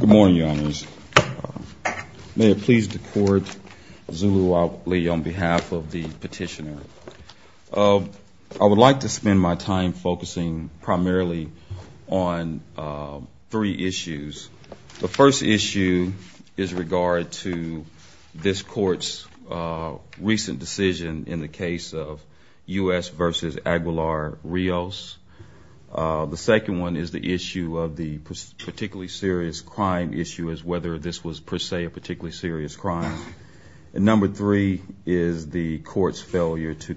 Good morning, your honors. May it please the court, Zulu Ali on behalf of the petitioner. I would like to spend my time focusing primarily on three issues. The first issue is regard to this court's recent decision in the case of U.S. v. Aguilar-Rios. The second one is the issue of the particularly serious crime issue, as whether this was per se a particularly serious crime. And number three is the court's failure to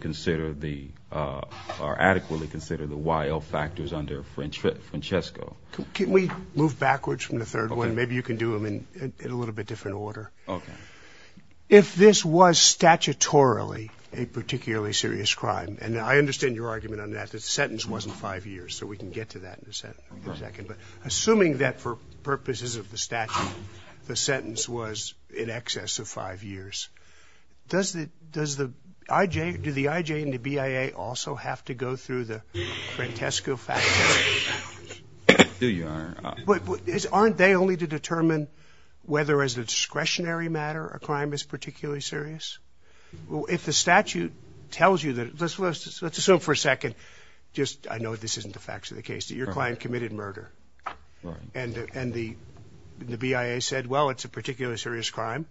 adequately consider the YL factors under Francesco. Can we move backwards from the third one? Maybe you can do them in a little bit different order. If this was statutorily a particularly serious crime, and I understand your argument on that, the sentence wasn't five years, so we can get to that in a second, but assuming that for purposes of the statute the sentence was in excess of five years, does the IJ and the BIA also have to go through the Francesco factors? There you are. Aren't they only to determine whether as a discretionary matter a crime is particularly serious? Well, if the statute tells you that, let's assume for a second, I know this isn't the facts of the case, that your client committed murder, and the BIA said, well, it's a particularly serious crime,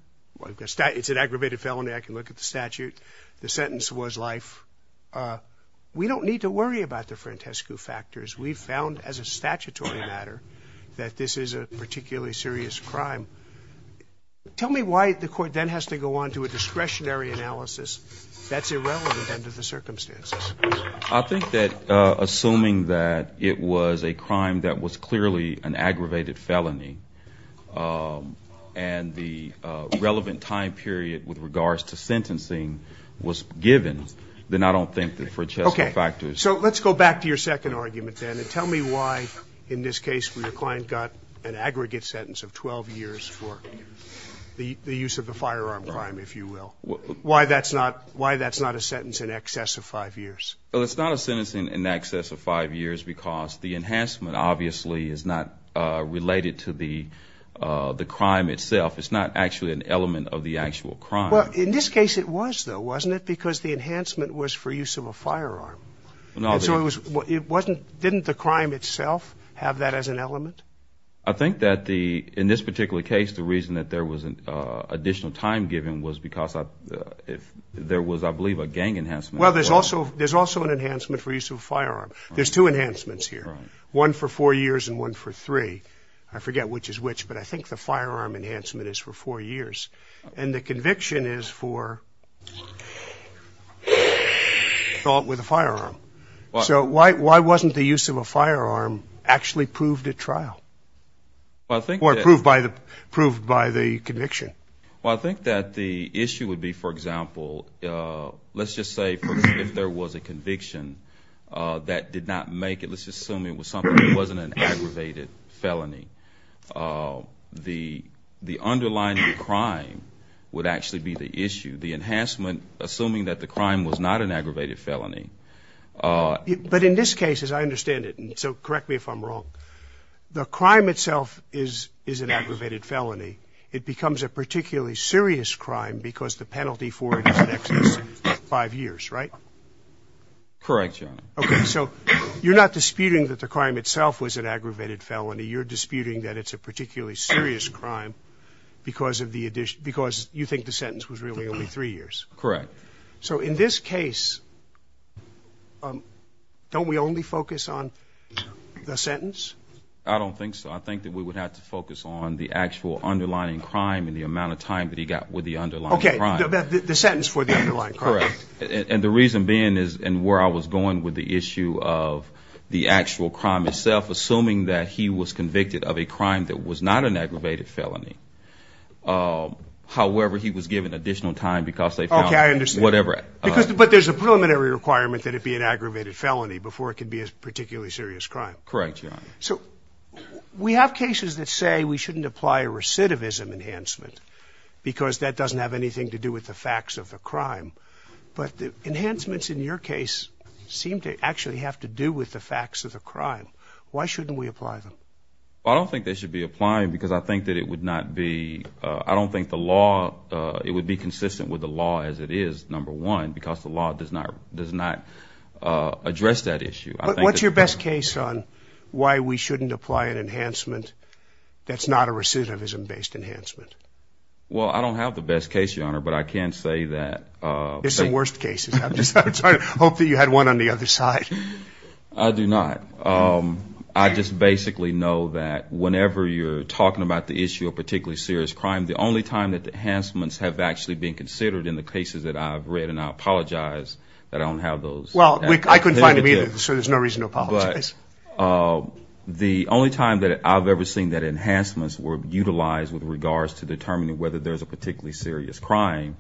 it's an aggravated felony, I can look at the statute, the sentence was life, we don't need to worry about the Francesco factors. We've found as a statutory matter that this is a particularly serious crime. Tell me why the court then has to go on to a discretionary analysis that's irrelevant under the circumstances. I think that assuming that it was a crime that was clearly an aggravated felony and the relevant time period with regards to sentencing was given, then I don't think that Francesco factors. Okay. So let's go back to your second argument then and tell me why in this case your client got an aggregate sentence of 12 years for the use of a firearm crime, if you will. Why that's not a sentence in excess of five years? Well, it's not a sentence in excess of five years because the enhancement obviously is not related to the crime itself. It's not actually an element of the actual crime. Well, in this case it was, though, wasn't it? Because the enhancement was for use of a firearm. And so it wasn't, didn't the crime itself have that as an element? I think that in this particular case the reason that there was an additional time given was because there was, I believe, a gang enhancement. Well, there's also an enhancement for use of a firearm. There's two enhancements here, one for four years and one for three. I forget which is which, but I think the firearm enhancement is for four years. And the conviction is for assault with a firearm. So why wasn't the use of a firearm actually proved at trial or proved by the conviction? Well, I think that the issue would be, for example, let's just say if there was a conviction that did not make it, let's just assume it was something that wasn't an aggravated felony. The underlying crime would actually be the issue. The enhancement, assuming that the crime was not an aggravated felony. But in this case, as I understand it, and so correct me if I'm wrong, the crime itself is an aggravated felony. It becomes a particularly serious crime because the penalty for it is an excess of five years, right? Correct, Your Honor. Okay, so you're not disputing that the crime itself was an aggravated felony. You're disputing that it's a particularly serious crime because you think the sentence was really only three years. Correct. So in this case, don't we only focus on the sentence? I don't think so. I think that we would have to focus on the actual underlying crime and the amount of time that he got with the underlying crime. Okay, the sentence for the underlying crime. Correct. And the reason being is, and where I was going with the issue of the actual crime itself, assuming that he was convicted of a crime that was not an aggravated felony. However, he was given additional time because they found whatever. Okay, I understand. But there's a preliminary requirement that it be an aggravated felony before it can be a particularly serious crime. Correct, Your Honor. So we have cases that say we shouldn't apply a recidivism enhancement because that doesn't have anything to do with the facts of the crime. But the enhancements in your case seem to actually have to do with the facts of the crime. Why shouldn't we apply them? I don't think they should be applied because I think that it would not be, I don't think the law, it would be consistent with the law as it is, number one, because the law does not address that issue. What's your best case on why we shouldn't apply an enhancement that's not a recidivism-based enhancement? Well, I don't have the best case, Your Honor, but I can say that. There's some worst cases. I hope that you had one on the other side. I do not. I just basically know that whenever you're talking about the issue of particularly serious crime, the only time that the enhancements have actually been considered in the cases that I've read, and I apologize that I don't have those. Well, I couldn't find them either, so there's no reason to apologize. But the only time that I've ever seen that enhancements were utilized with regards to determining whether there's a particularly serious crime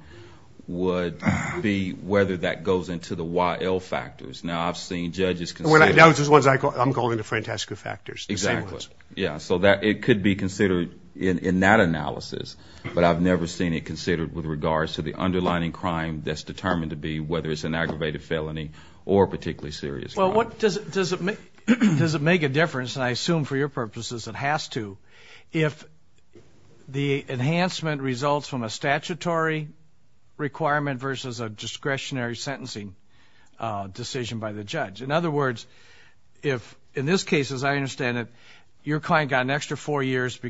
would be whether that goes into the YL factors. Now, I've seen judges consider it. I'm going to Francesca factors. Exactly. Yeah, so it could be considered in that analysis, but I've never seen it considered with regards to the underlining crime that's determined to be, whether it's an aggravated felony or a particularly serious crime. Well, does it make a difference, and I assume for your purposes it has to, if the enhancement results from a statutory requirement versus a discretionary sentencing decision by the judge? In other words, if in this case, as I understand it, your client got an extra four years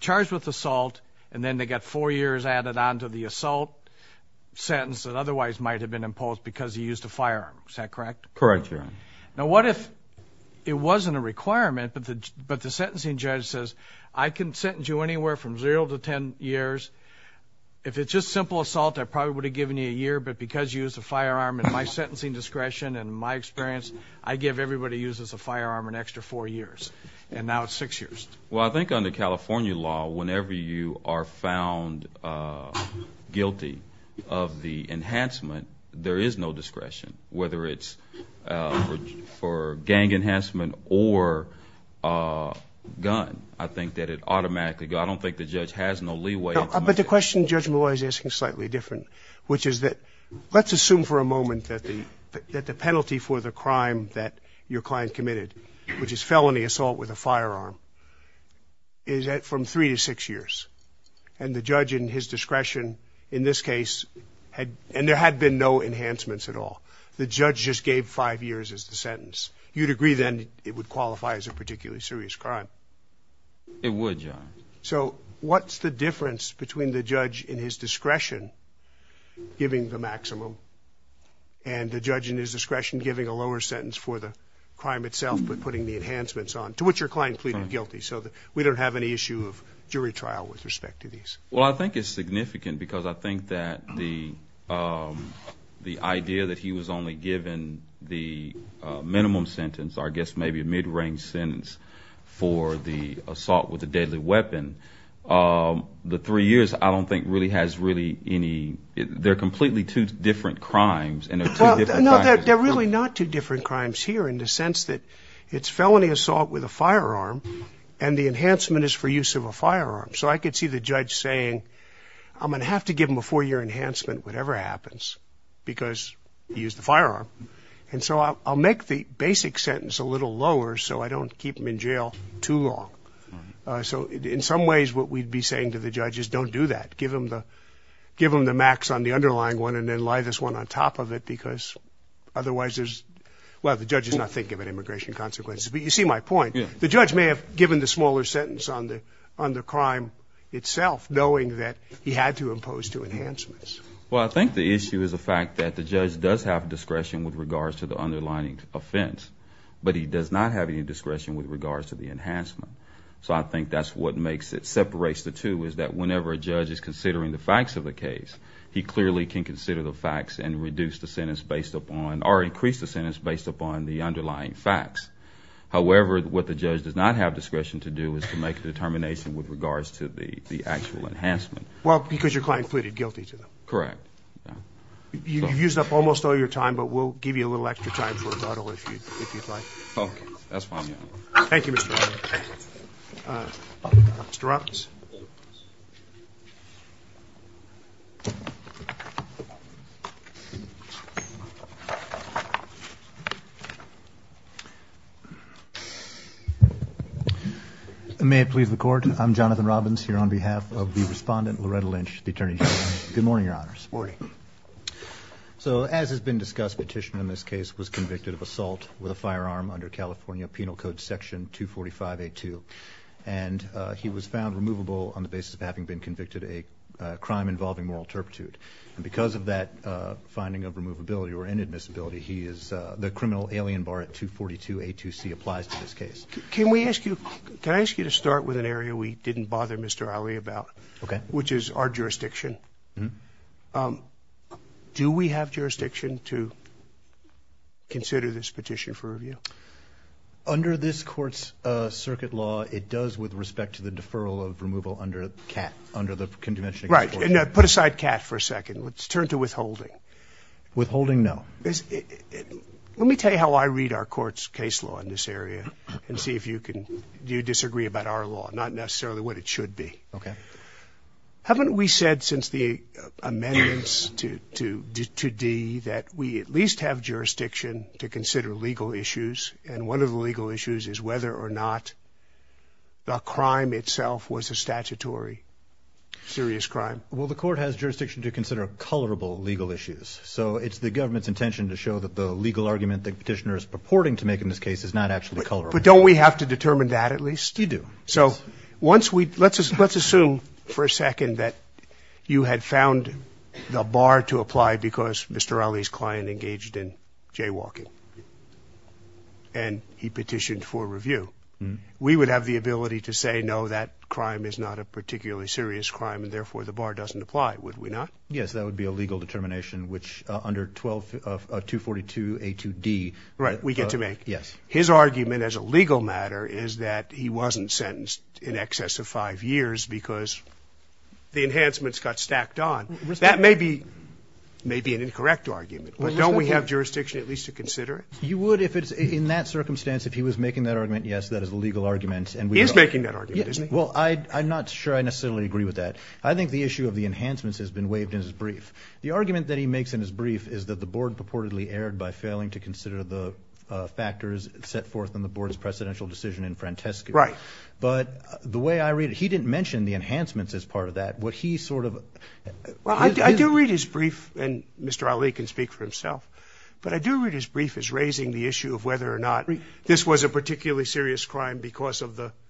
charged with assault, and then they got four years added on to the assault sentence that otherwise might have been imposed because he used a firearm. Is that correct? Correct, Your Honor. Now, what if it wasn't a requirement, but the sentencing judge says, I can sentence you anywhere from zero to ten years. If it's just simple assault, I probably would have given you a year, but because you used a firearm at my sentencing discretion and my experience, I give everybody who uses a firearm an extra four years, and now it's six years. Well, I think under California law, whenever you are found guilty of the enhancement, there is no discretion, whether it's for gang enhancement or a gun. I think that it automatically goes. I don't think the judge has no leeway. But the question Judge Malloy is asking is slightly different, which is that let's assume for a moment that the penalty for the crime that your client committed, which is felony assault with a firearm, is from three to six years, and the judge in his discretion in this case, and there had been no enhancements at all, the judge just gave five years as the sentence. You'd agree then it would qualify as a particularly serious crime? It would, Your Honor. So what's the difference between the judge in his discretion giving the maximum and the judge in his discretion giving a lower sentence for the crime itself but putting the enhancements on, to which your client pleaded guilty, so that we don't have any issue of jury trial with respect to these? Well, I think it's significant because I think that the idea that he was only given the minimum sentence, or I guess maybe a mid-range sentence for the assault with a deadly weapon, the three years I don't think really has really any – they're completely two different crimes. No, they're really not two different crimes here in the sense that it's felony assault with a firearm, and the enhancement is for use of a firearm. So I could see the judge saying, I'm going to have to give him a four-year enhancement, whatever happens, because he used the firearm. And so I'll make the basic sentence a little lower so I don't keep him in jail too long. So in some ways what we'd be saying to the judge is don't do that. Give him the max on the underlying one and then lie this one on top of it because otherwise there's – well, the judge is not thinking about immigration consequences, but you see my point. The judge may have given the smaller sentence on the crime itself knowing that he had to impose two enhancements. Well, I think the issue is the fact that the judge does have discretion with regards to the underlying offense, but he does not have any discretion with regards to the enhancement. So I think that's what makes it – separates the two is that whenever a judge is considering the facts of the case, he clearly can consider the facts and reduce the sentence based upon – or increase the sentence based upon the underlying facts. However, what the judge does not have discretion to do is to make a determination with regards to the actual enhancement. Well, because your client pleaded guilty to them. Correct. You've used up almost all your time, but we'll give you a little extra time for rebuttal if you'd like. Okay. That's fine. Thank you, Mr. Brown. Mr. Robbins. May it please the Court. I'm Jonathan Robbins here on behalf of the respondent, Loretta Lynch, the Attorney General. Good morning, Your Honors. Morning. So as has been discussed, the petitioner in this case was convicted of assault with a firearm under California Penal Code Section 245A2. And he was found removable on the basis of having been convicted of a crime involving moral turpitude. And because of that finding of removability or inadmissibility, he is – the criminal alien bar at 242A2C applies to this case. Can we ask you – can I ask you to start with an area we didn't bother Mr. Allee about? Okay. Which is our jurisdiction. Mm-hmm. Do we have jurisdiction to consider this petition for review? Under this Court's circuit law, it does with respect to the deferral of removal under CAT, under the Convention Against Torture. Right. And put aside CAT for a second. Let's turn to withholding. Withholding, no. Let me tell you how I read our Court's case law in this area and see if you can – do you disagree about our law, not necessarily what it should be. Okay. Haven't we said since the amendments to D that we at least have jurisdiction to consider legal issues? And one of the legal issues is whether or not the crime itself was a statutory serious crime. Well, the Court has jurisdiction to consider colorable legal issues. So it's the government's intention to show that the legal argument the petitioner is purporting to make in this case is not actually colorable. But don't we have to determine that at least? You do. So once we – let's assume for a second that you had found the bar to apply because Mr. Ali's client engaged in jaywalking and he petitioned for review. We would have the ability to say, no, that crime is not a particularly serious crime and therefore the bar doesn't apply, would we not? Yes, that would be a legal determination, which under 242A2D – Right, we get to make. Yes. His argument as a legal matter is that he wasn't sentenced in excess of five years because the enhancements got stacked on. That may be an incorrect argument. But don't we have jurisdiction at least to consider it? You would if it's – in that circumstance, if he was making that argument, yes, that is a legal argument. He is making that argument, isn't he? Well, I'm not sure I necessarily agree with that. I think the issue of the enhancements has been waived in his brief. The argument that he makes in his brief is that the board purportedly erred by failing to consider the factors set forth in the board's precedential decision in Francesco. Right. But the way I read it, he didn't mention the enhancements as part of that. What he sort of – Well, I do read his brief, and Mr. Ali can speak for himself, but I do read his brief as raising the issue of whether or not this was a particularly serious crime because of the –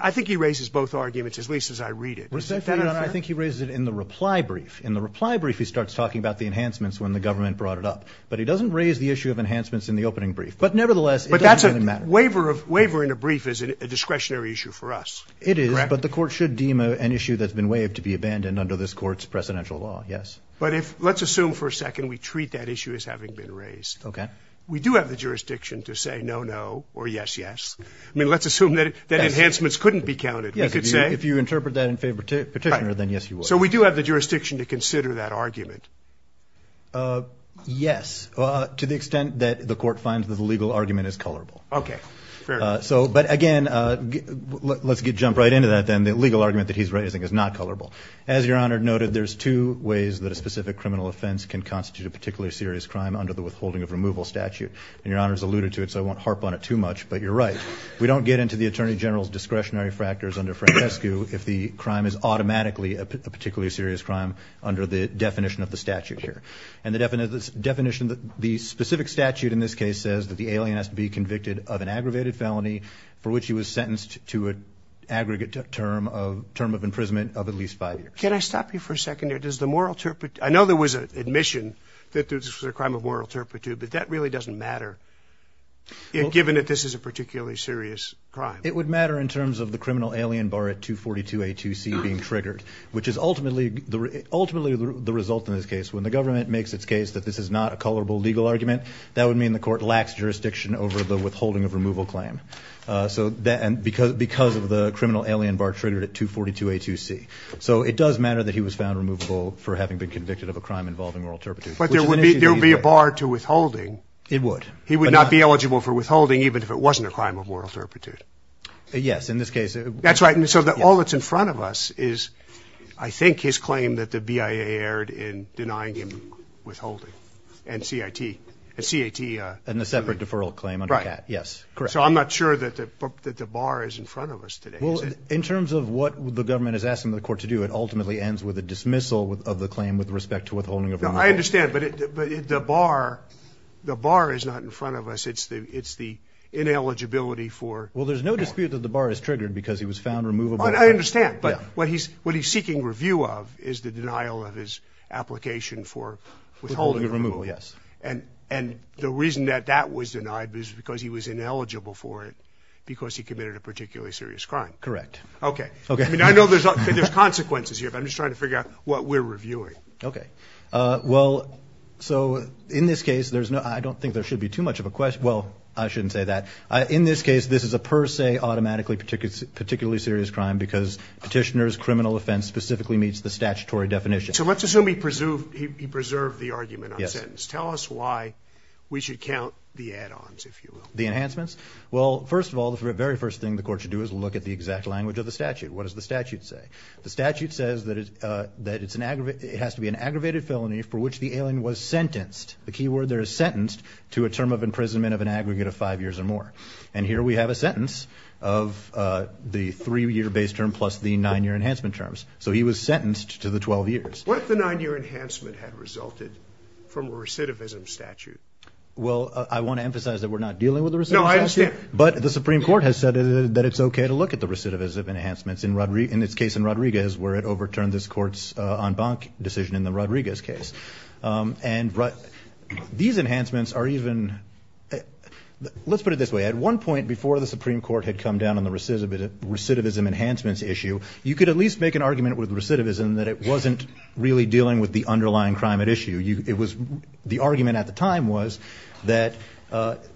I think he raises both arguments, at least as I read it. Respectfully, I think he raises it in the reply brief. In the reply brief, he starts talking about the enhancements when the government brought it up. But he doesn't raise the issue of enhancements in the opening brief. But nevertheless, it doesn't really matter. But that's a waiver of – waiver in a brief is a discretionary issue for us. It is, but the court should deem an issue that's been waived to be abandoned under this court's precedential law, yes. But if – let's assume for a second we treat that issue as having been raised. Okay. We do have the jurisdiction to say no, no, or yes, yes. I mean, let's assume that enhancements couldn't be counted. Yes, if you interpret that in favor of the petitioner, then yes, you would. So we do have the jurisdiction to consider that argument. Yes, to the extent that the court finds that the legal argument is colorable. Okay, fair enough. So – but again, let's jump right into that then. The legal argument that he's raising is not colorable. As Your Honor noted, there's two ways that a specific criminal offense can constitute a particularly serious crime under the withholding of removal statute. And Your Honor has alluded to it, so I won't harp on it too much, but you're right. We don't get into the Attorney General's discretionary factors under Francescu if the crime is automatically a particularly serious crime under the definition of the statute here. And the definition – the specific statute in this case says that the alien has to be convicted of an aggravated felony for which he was sentenced to an aggregate term of – term of imprisonment of at least five years. Can I stop you for a second there? Does the moral – I know there was an admission that this was a crime of moral turpitude, but that really doesn't matter given that this is a particularly serious crime. It would matter in terms of the criminal alien bar at 242A2C being triggered, which is ultimately – ultimately the result in this case. When the government makes its case that this is not a colorable legal argument, that would mean the court lacks jurisdiction over the withholding of removal claim. So – and because of the criminal alien bar triggered at 242A2C. So it does matter that he was found removable for having been convicted of a crime involving moral turpitude. But there would be – there would be a bar to withholding. It would. He would not be eligible for withholding even if it wasn't a crime of moral turpitude. Yes, in this case. That's right. And so all that's in front of us is I think his claim that the BIA erred in denying him withholding. And CIT. And CIT. And the separate deferral claim under CAT. Right. Yes. Correct. So I'm not sure that the bar is in front of us today. Well, in terms of what the government is asking the court to do, it ultimately ends with a dismissal of the claim with respect to withholding of removal. I understand. But the bar – the bar is not in front of us. It's the ineligibility for – Well, there's no dispute that the bar is triggered because he was found removable. I understand. But what he's seeking review of is the denial of his application for withholding of removal. Withholding of removal, yes. And the reason that that was denied is because he was ineligible for it because he committed a particularly serious crime. Correct. Okay. I mean, I know there's consequences here, but I'm just trying to figure out what we're reviewing. Okay. Well, so in this case, there's no – I don't think there should be too much of a – well, I shouldn't say that. In this case, this is a per se, automatically particularly serious crime because petitioner's criminal offense specifically meets the statutory definition. So let's assume he preserved the argument on sentence. Yes. Tell us why we should count the add-ons, if you will. The enhancements? Well, first of all, the very first thing the court should do is look at the exact language of the statute. What does the statute say? The statute says that it has to be an aggravated felony for which the alien was sentenced. The key word there is sentenced to a term of imprisonment of an aggregate of five years or more. And here we have a sentence of the three-year base term plus the nine-year enhancement terms. So he was sentenced to the 12 years. What if the nine-year enhancement had resulted from a recidivism statute? Well, I want to emphasize that we're not dealing with a recidivism statute. No, I understand. But the Supreme Court has said that it's okay to look at the recidivism enhancements. In its case in Rodriguez, where it overturned this court's en banc decision in the Rodriguez case. And these enhancements are even – let's put it this way. At one point before the Supreme Court had come down on the recidivism enhancements issue, you could at least make an argument with recidivism that it wasn't really dealing with the underlying crime at issue. The argument at the time was that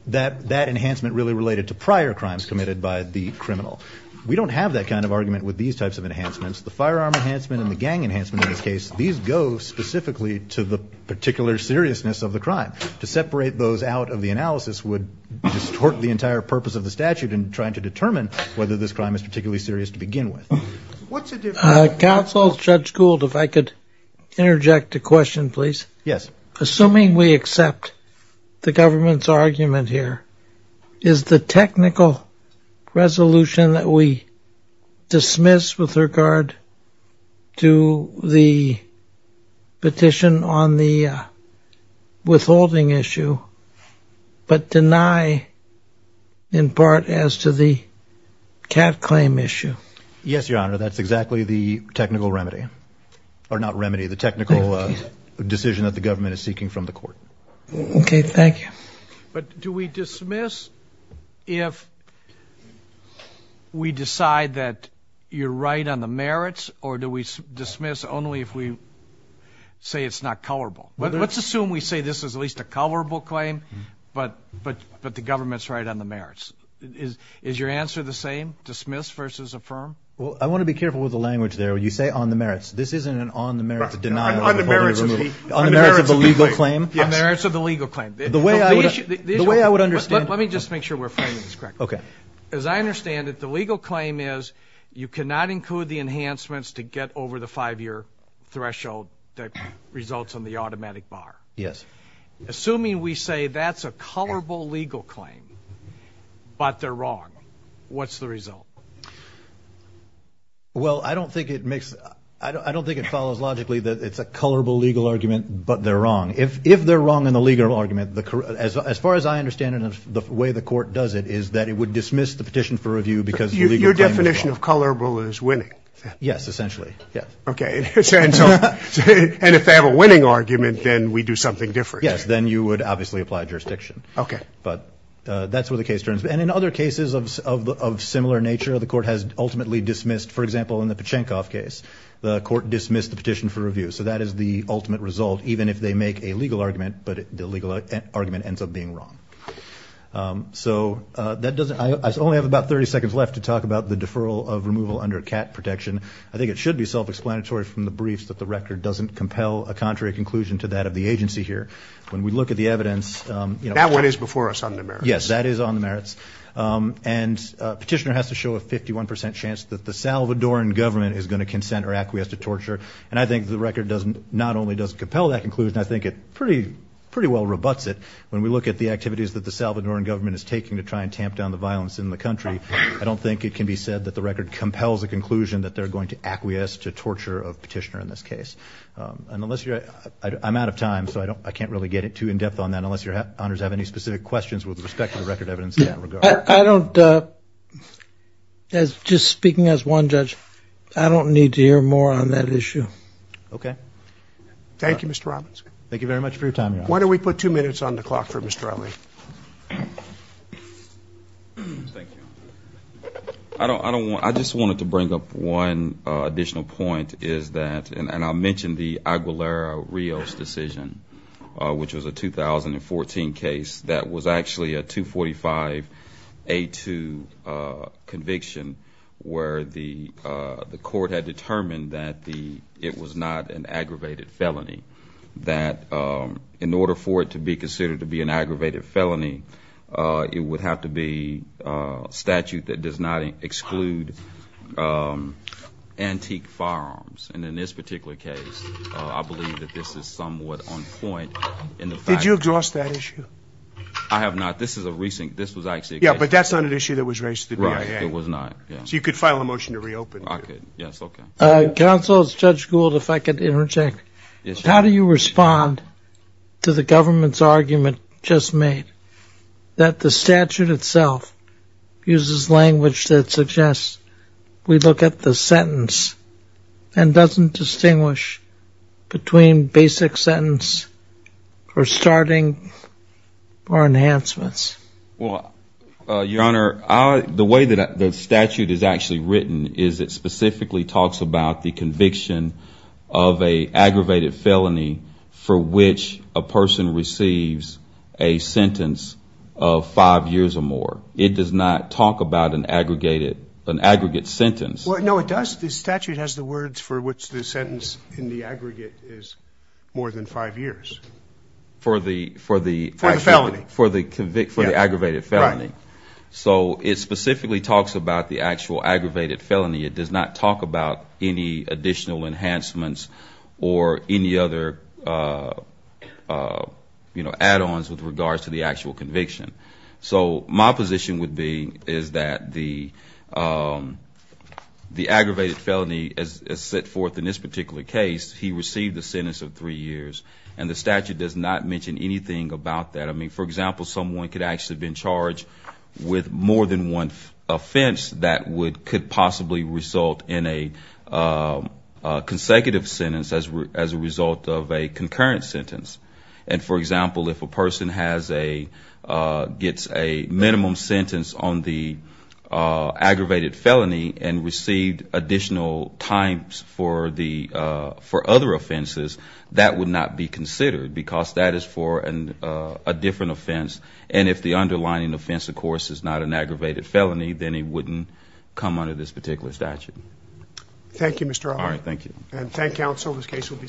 that enhancement really related to prior crimes committed by the criminal. We don't have that kind of argument with these types of enhancements. The firearm enhancement and the gang enhancement in this case, these go specifically to the particular seriousness of the crime. To separate those out of the analysis would distort the entire purpose of the statute in trying to determine whether this crime is particularly serious to begin with. Counsel, Judge Gould, if I could interject a question, please. Yes. Assuming we accept the government's argument here, is the technical resolution that we dismiss with regard to the petition on the withholding issue, but deny in part as to the cat claim issue? Yes, Your Honor, that's exactly the technical remedy. Or not remedy, the technical decision that the government is seeking from the court. Okay, thank you. But do we dismiss if we decide that you're right on the merits, or do we dismiss only if we say it's not colorable? Let's assume we say this is at least a colorable claim, but the government's right on the merits. Is your answer the same, dismiss versus affirm? Well, I want to be careful with the language there. You say on the merits. This isn't an on the merits denial of withholding or removal. On the merits of the legal claim. On the merits of the legal claim. The way I would understand. Let me just make sure we're framing this correctly. Okay. As I understand it, the legal claim is you cannot include the enhancements to get over the five-year threshold that results in the automatic bar. Yes. Assuming we say that's a colorable legal claim, but they're wrong, what's the result? Well, I don't think it follows logically that it's a colorable legal argument, but they're wrong. If they're wrong in the legal argument, as far as I understand it and the way the court does it, is that it would dismiss the petition for review because the legal claim is wrong. Your definition of colorable is winning. Yes, essentially. Okay. And if they have a winning argument, then we do something different. Yes, then you would obviously apply jurisdiction. Okay. But that's where the case turns. And in other cases of similar nature, the court has ultimately dismissed. For example, in the Pachenkov case, the court dismissed the petition for review. So that is the ultimate result, even if they make a legal argument, but the legal argument ends up being wrong. So I only have about 30 seconds left to talk about the deferral of removal under CAT protection. I think it should be self-explanatory from the briefs that the record doesn't compel a contrary conclusion to that of the agency here. When we look at the evidence. That one is before us on the merits. Yes, that is on the merits. And Petitioner has to show a 51% chance that the Salvadoran government is going to consent or acquiesce to torture. And I think the record not only doesn't compel that conclusion, I think it pretty well rebutts it. When we look at the activities that the Salvadoran government is taking to try and tamp down the violence in the country, I don't think it can be said that the record compels a conclusion that they're going to acquiesce to torture of Petitioner in this case. I'm out of time, so I can't really get too in-depth on that unless your honors have any specific questions with respect to the record evidence in that regard. I don't. Just speaking as one judge, I don't need to hear more on that issue. Okay. Thank you, Mr. Robinson. Thank you very much for your time, Your Honor. Why don't we put two minutes on the clock for Mr. Ali? Thank you. I just wanted to bring up one additional point, and I'll mention the Aguilera-Rios decision, which was a 2014 case that was actually a 245A2 conviction where the court had determined that it was not an aggravated felony, that in order for it to be considered to be an aggravated felony, it would have to be a statute that does not exclude antique firearms. And in this particular case, I believe that this is somewhat on point. Did you address that issue? I have not. This was actually a case. Yeah, but that's not an issue that was raised to the BIA. Right. It was not. So you could file a motion to reopen. I could. Okay. Counsel, it's Judge Gould, if I could interject. Yes, Your Honor. How do you respond to the government's argument just made that the statute itself uses language that suggests we look at the sentence and doesn't distinguish between basic sentence or starting or enhancements? Well, Your Honor, the way that the statute is actually written is it specifically talks about the conviction of an aggravated felony, for which a person receives a sentence of five years or more. It does not talk about an aggregated, an aggregate sentence. Well, no, it does. The statute has the words for which the sentence in the aggregate is more than five years. For the felony. For the aggravated felony. Right. So it specifically talks about the actual aggravated felony. It does not talk about any additional enhancements or any other, you know, add-ons with regards to the actual conviction. So my position would be is that the aggravated felony as set forth in this particular case, he received a sentence of three years, and the statute does not mention anything about that. I mean, for example, someone could actually have been charged with more than one offense that could possibly result in a consecutive sentence as a result of a concurrent sentence. And, for example, if a person has a, gets a minimum sentence on the aggravated felony and received additional times for the, for other offense, and if the underlying offense, of course, is not an aggravated felony, then he wouldn't come under this particular statute. Thank you, Mr. O'Hara. All right, thank you. And thank you, counsel. This case will be submitted.